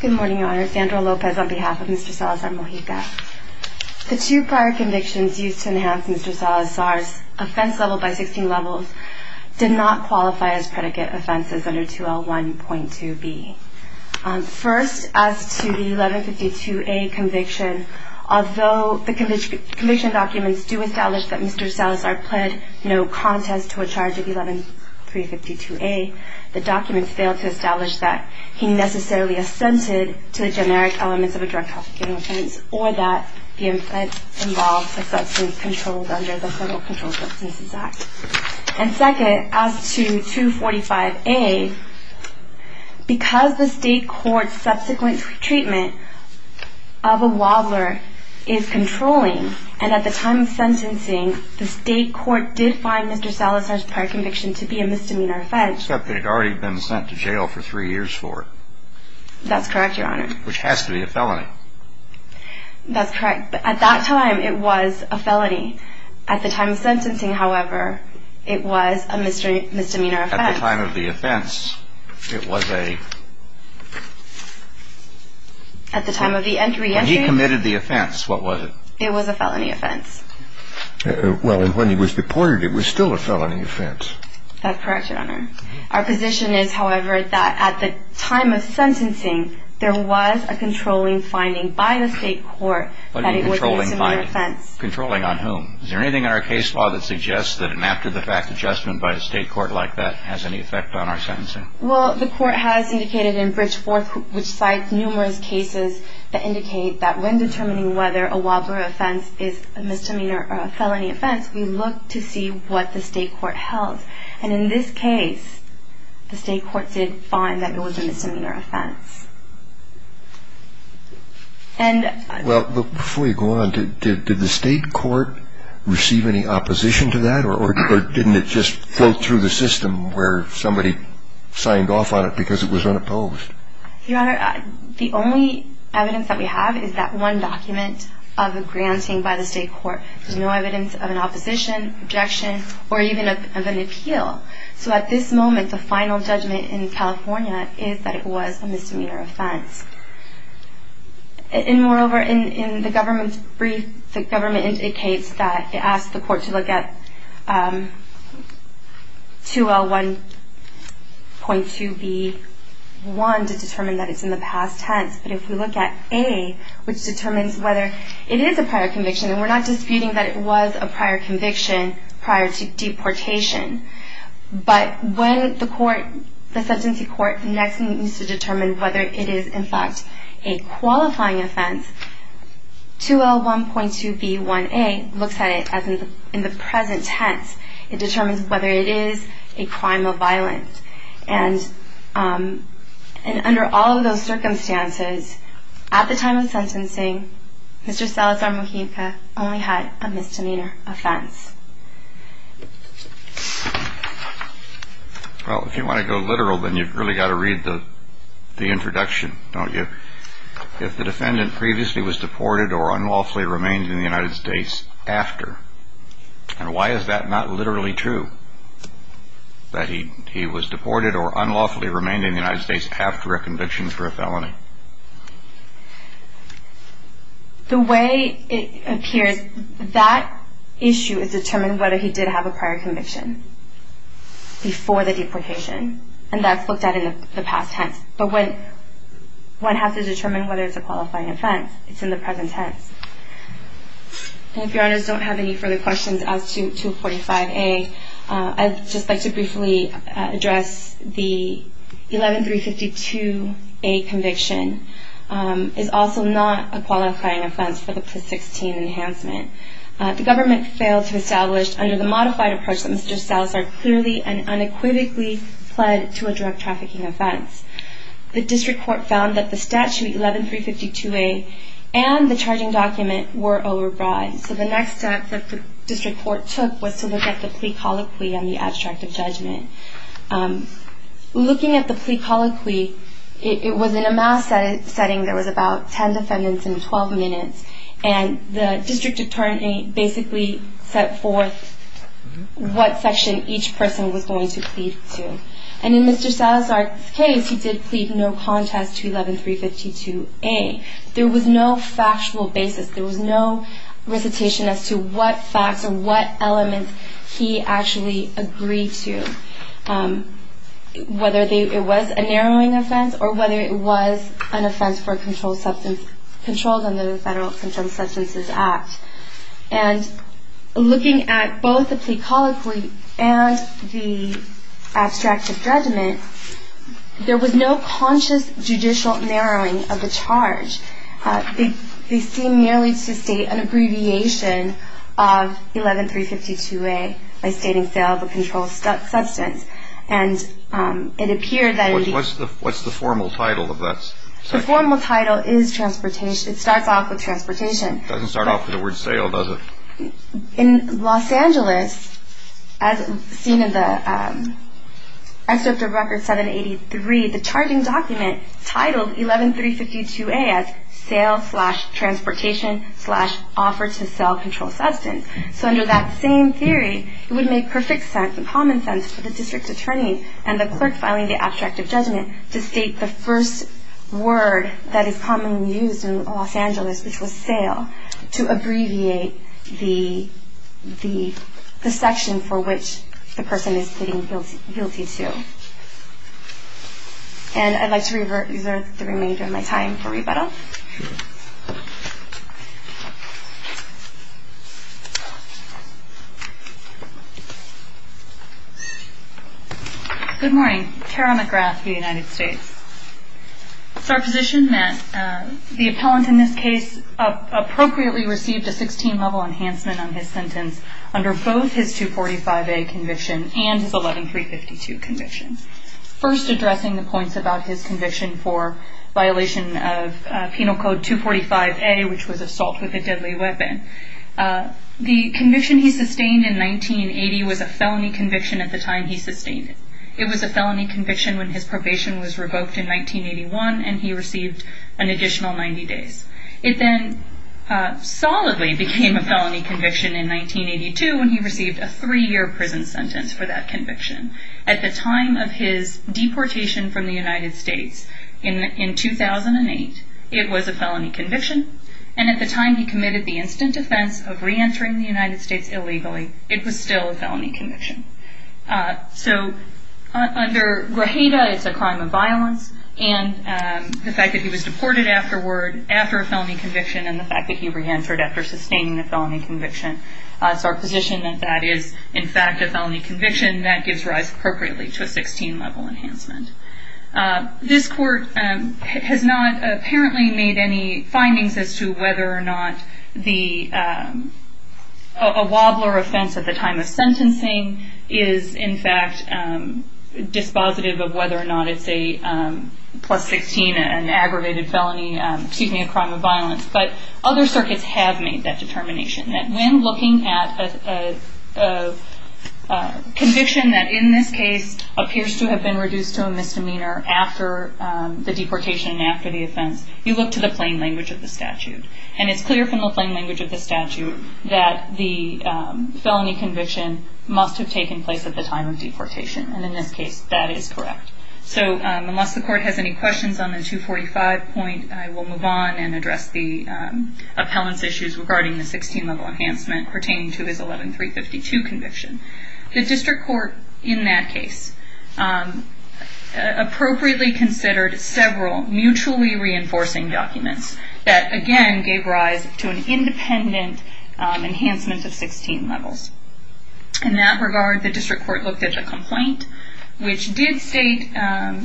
Good morning, Your Honor. Sandra Lopez on behalf of Mr. Salazar-Mojica. The two prior convictions used to enhance Mr. Salazar's offense level by 16 levels did not qualify as predicate offenses under 2L1.2b. First, as to the 1152A conviction, although the conviction documents do establish that Mr. Salazar pled no contest to a charge of 11352A, the documents fail to establish that he necessarily assented to the generic elements of a drug trafficking offense, or that the offense involves a substance controlled under the Federal Controlled Substances Act. And second, as to 245A, because the state court's subsequent treatment of a wobbler is controlling, and at the time of sentencing, the state court did find Mr. Salazar's prior conviction to be a misdemeanor offense. Except that he had already been sent to jail for three years for it. That's correct, Your Honor. Which has to be a felony. That's correct, but at that time, it was a felony. At the time of sentencing, however, it was a misdemeanor offense. At the time of the offense, it was a... At the time of the re-entry... When he committed the offense, what was it? It was a felony offense. Well, and when he was deported, it was still a felony offense. That's correct, Your Honor. Our position is, however, that at the time of sentencing, there was a controlling finding by the state court that it was a misdemeanor offense. What do you mean, controlling finding? Controlling on whom? Is there anything in our case law that suggests that an after-the-fact adjustment by a state court like that has any effect on our sentencing? Well, the court has indicated in Bridgeforth, which cites numerous cases that indicate that when determining whether a Wildflower offense is a misdemeanor or a felony offense, we look to see what the state court held. And in this case, the state court did find that it was a misdemeanor offense. And... Well, before you go on, did the state court receive any opposition to that, or didn't it just float through the system where somebody signed off on it because it was unopposed? Your Honor, the only evidence that we have is that one document of a granting by the state court. There's no evidence of an opposition, objection, or even of an appeal. So at this moment, the final judgment in California is that it was a misdemeanor offense. And moreover, in the government's brief, the government indicates that it asked the court to look at 2L1.2B1 to determine that it's in the past tense. But if we look at A, which determines whether it is a prior conviction, and we're not disputing that it was a prior conviction prior to deportation, but when the court, the sentencing court, next needs to determine whether it is, in fact, a qualifying offense, 2L1.2B1A looks at it as in the present tense. It determines whether it is a crime of violence. And under all of those circumstances, at the time of sentencing, Mr. Salazar-Mujica only had a misdemeanor offense. Well, if you want to go literal, then you've really got to read the introduction, don't you? If the defendant previously was deported or unlawfully remained in the United States after, and why is that not literally true, that he was deported or unlawfully remained in the United States after a conviction for a felony? The way it appears, that issue is determined whether he did have a prior conviction before the deportation, and that's looked at in the past tense. But when one has to determine whether it's a qualifying offense, it's in the present tense. And if Your Honors don't have any further questions as to 245A, I'd just like to briefly address the 11352A conviction is also not a qualifying offense for the PLIS 16 enhancement. The government failed to establish under the modified approach that Mr. Salazar clearly and unequivocally pled to a drug trafficking offense. The district court found that the statute 11352A and the charging document were overbroad. So the next step that the district court took was to look at the plea colloquy on the abstract of judgment. Looking at the plea colloquy, it was in a mass setting. There was about 10 defendants in 12 minutes, and the district attorney basically set forth what section each person was going to plead to. And in Mr. Salazar's case, he did plead no contest to 11352A. There was no factual basis. There was no recitation as to what facts or what elements he actually agreed to, whether it was a narrowing offense or whether it was an offense for a controlled substance, controlled under the Federal Substances Act. And looking at both the plea colloquy and the abstract of judgment, there was no conscious judicial narrowing of the charge. They seem merely to state an abbreviation of 11352A by stating sale of a controlled substance. And it appeared that he... What's the formal title of that section? The formal title is transportation. It starts off with transportation. It doesn't start off with the word sale, does it? In Los Angeles, as seen in the excerpt of Record 783, the charging document titled 11352A as sale-transportation-offer-to-sell-controlled-substance. So under that same theory, it would make perfect sense and common sense for the district attorney and the clerk filing the abstract of judgment to state the first word that is commonly used in Los Angeles, which was sale, to abbreviate the section for which the person is pleading guilty to. And I'd like to reserve the remainder of my time for rebuttal. Good morning. Tara McGrath with the United States. It's our position that the appellant in this case appropriately received a 16-level enhancement on his sentence under both his 245A conviction and his 11352 conviction. First, addressing the points about his conviction for violation of Penal Code 245A, which was assault with a deadly weapon. The conviction he sustained in 1980 was a felony conviction at the time he sustained it. It was a felony conviction when his probation was revoked in 1981 and he received an additional 90 days. It then solidly became a felony conviction in 1982 when he received a three-year prison sentence for that conviction. At the time of his deportation from the United States in 2008, it was a felony conviction, and at the time he committed the instant offense of reentering the United States illegally, it was still a felony conviction. So under Grajeda, it's a crime of violence, and the fact that he was deported afterward after a felony conviction and the fact that he reentered after sustaining a felony conviction, it's our position that that is in fact a felony conviction that gives rise appropriately to a 16-level enhancement. This court has not apparently made any findings as to whether or not a wobbler offense at the time of sentencing is in fact dispositive of whether or not it's a plus-16, an aggravated felony, excuse me, a crime of violence. But other circuits have made that determination, that when looking at a conviction that in this case appears to have been reduced to a misdemeanor after the deportation and after the offense, you look to the plain language of the statute. And it's clear from the plain language of the statute that the felony conviction must have taken place at the time of deportation. And in this case, that is correct. So unless the court has any questions on the 245 point, I will move on and address the appellant's issues regarding the 16-level enhancement pertaining to his 11-352 conviction. The district court in that case appropriately considered several mutually reinforcing documents that, again, gave rise to an independent enhancement of 16 levels. In that regard, the district court looked at the complaint, which did state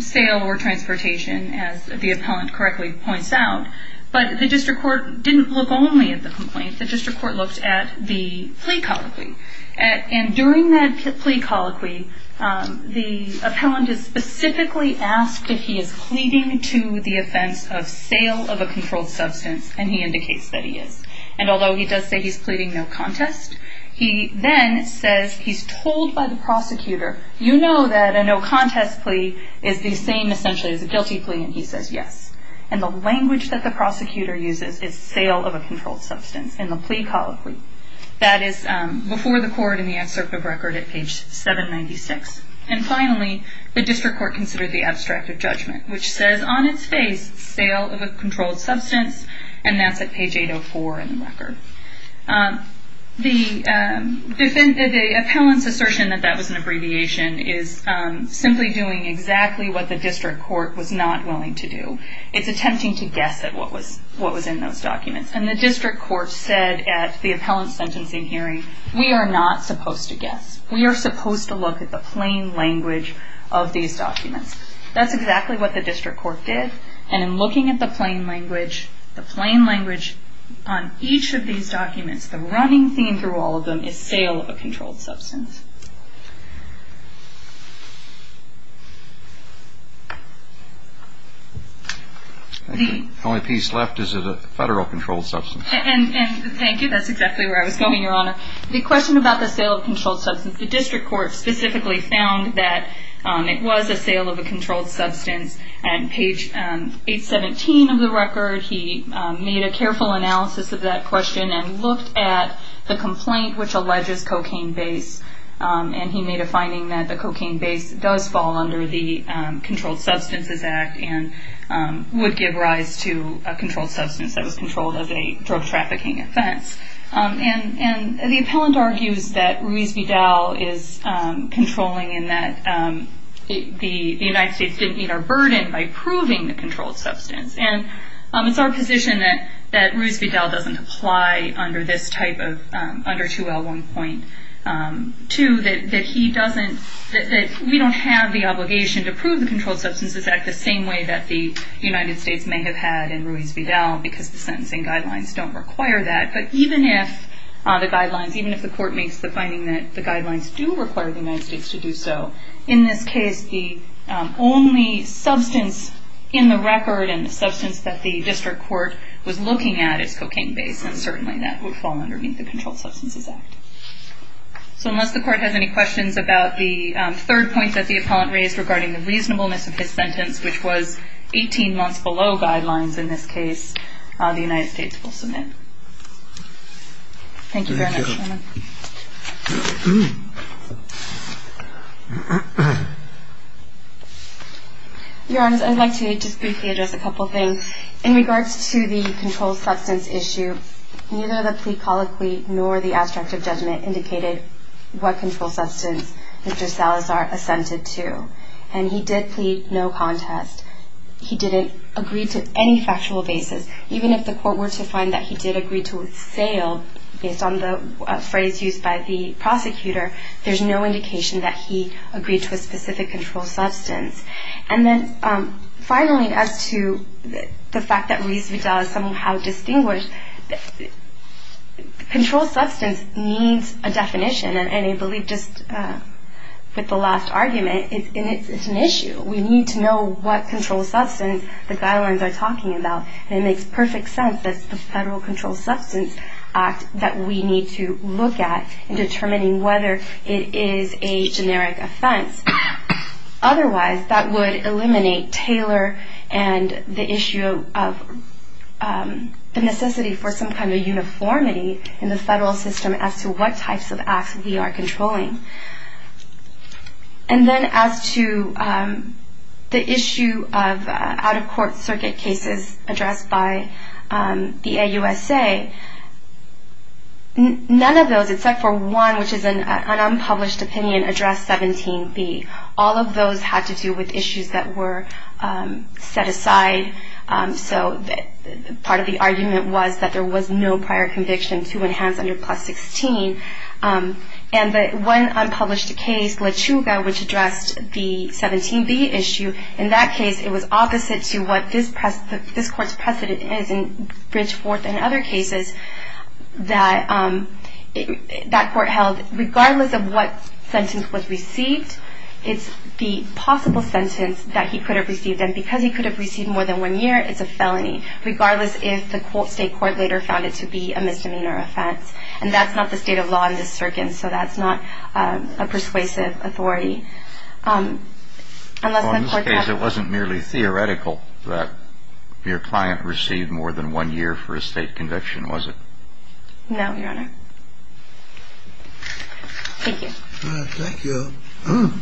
sale or transportation, as the appellant correctly points out. But the district court didn't look only at the complaint. The district court looked at the plea colloquy. And during that plea colloquy, the appellant is specifically asked if he is pleading to the offense of sale of a controlled substance, and he indicates that he is. And although he does say he's pleading no contest, he then says he's told by the prosecutor, you know that a no contest plea is the same essentially as a guilty plea, and he says yes. And the language that the prosecutor uses is sale of a controlled substance in the plea colloquy. That is before the court in the excerpt of record at page 796. And finally, the district court considered the abstract of judgment, which says on its face, sale of a controlled substance, and that's at page 804 in the record. The appellant's assertion that that was an abbreviation is simply doing exactly what the district court was not willing to do. It's attempting to guess at what was in those documents. And the district court said at the appellant's sentencing hearing, we are not supposed to guess. We are supposed to look at the plain language of these documents. That's exactly what the district court did, and in looking at the plain language on each of these documents, the running theme through all of them is sale of a controlled substance. The only piece left is a federal controlled substance. And thank you. That's exactly where I was going, Your Honor. The question about the sale of a controlled substance, the district court specifically found that it was a sale of a controlled substance. And page 817 of the record, he made a careful analysis of that question and looked at the complaint which alleges cocaine base. And he made a finding that the cocaine base does fall under the Controlled Substances Act and would give rise to a controlled substance that was controlled as a drug trafficking offense. And the appellant argues that Ruiz Vidal is controlling and that the United States didn't meet our burden by proving the controlled substance. And it's our position that Ruiz Vidal doesn't apply under this type of, under 2L1.2, that he doesn't, that we don't have the obligation to prove the Controlled Substances Act the same way that the United States may have had in Ruiz Vidal because the sentencing guidelines don't require that. But even if the guidelines, even if the court makes the finding that the guidelines do require the United States to do so, in this case the only substance in the record and the substance that the district court was looking at is cocaine base, and certainly that would fall underneath the Controlled Substances Act. So unless the court has any questions about the third point that the appellant raised regarding the reasonableness of his sentence, which was 18 months below guidelines in this case, the United States will submit. Thank you very much. Your Honor, I'd like to just briefly address a couple of things. In regards to the controlled substance issue, neither the plea colloquy nor the abstract of judgment indicated what controlled substance Mr. Salazar assented to. And he did plead no contest. He didn't agree to any factual basis. Even if the court were to find that he did agree to a sale, based on the phrase used by the prosecutor, there's no indication that he agreed to a specific controlled substance. And then finally, as to the fact that Reese Vidal is somehow distinguished, controlled substance needs a definition. And I believe just with the last argument, it's an issue. We need to know what controlled substance the guidelines are talking about. And it makes perfect sense that it's the Federal Controlled Substance Act that we need to look at in determining whether it is a generic offense. Otherwise, that would eliminate Taylor and the issue of the necessity for some kind of uniformity in the federal system as to what types of acts we are controlling. And then as to the issue of out-of-court circuit cases addressed by the AUSA, none of those except for one, which is an unpublished opinion, addressed 17B. All of those had to do with issues that were set aside. So part of the argument was that there was no prior conviction to enhance under plus 16. And the one unpublished case, LaChuga, which addressed the 17B issue, in that case it was opposite to what this court's precedent is in Bridgeforth and other cases that that court held, regardless of what sentence was received, it's the possible sentence that he could have received. And because he could have received more than one year, it's a felony, regardless if the state court later found it to be a misdemeanor offense. And that's not the state of law in this circuit, and so that's not a persuasive authority. In this case, it wasn't merely theoretical that your client received more than one year for a state conviction, was it? No, Your Honor. Thank you. Thank you.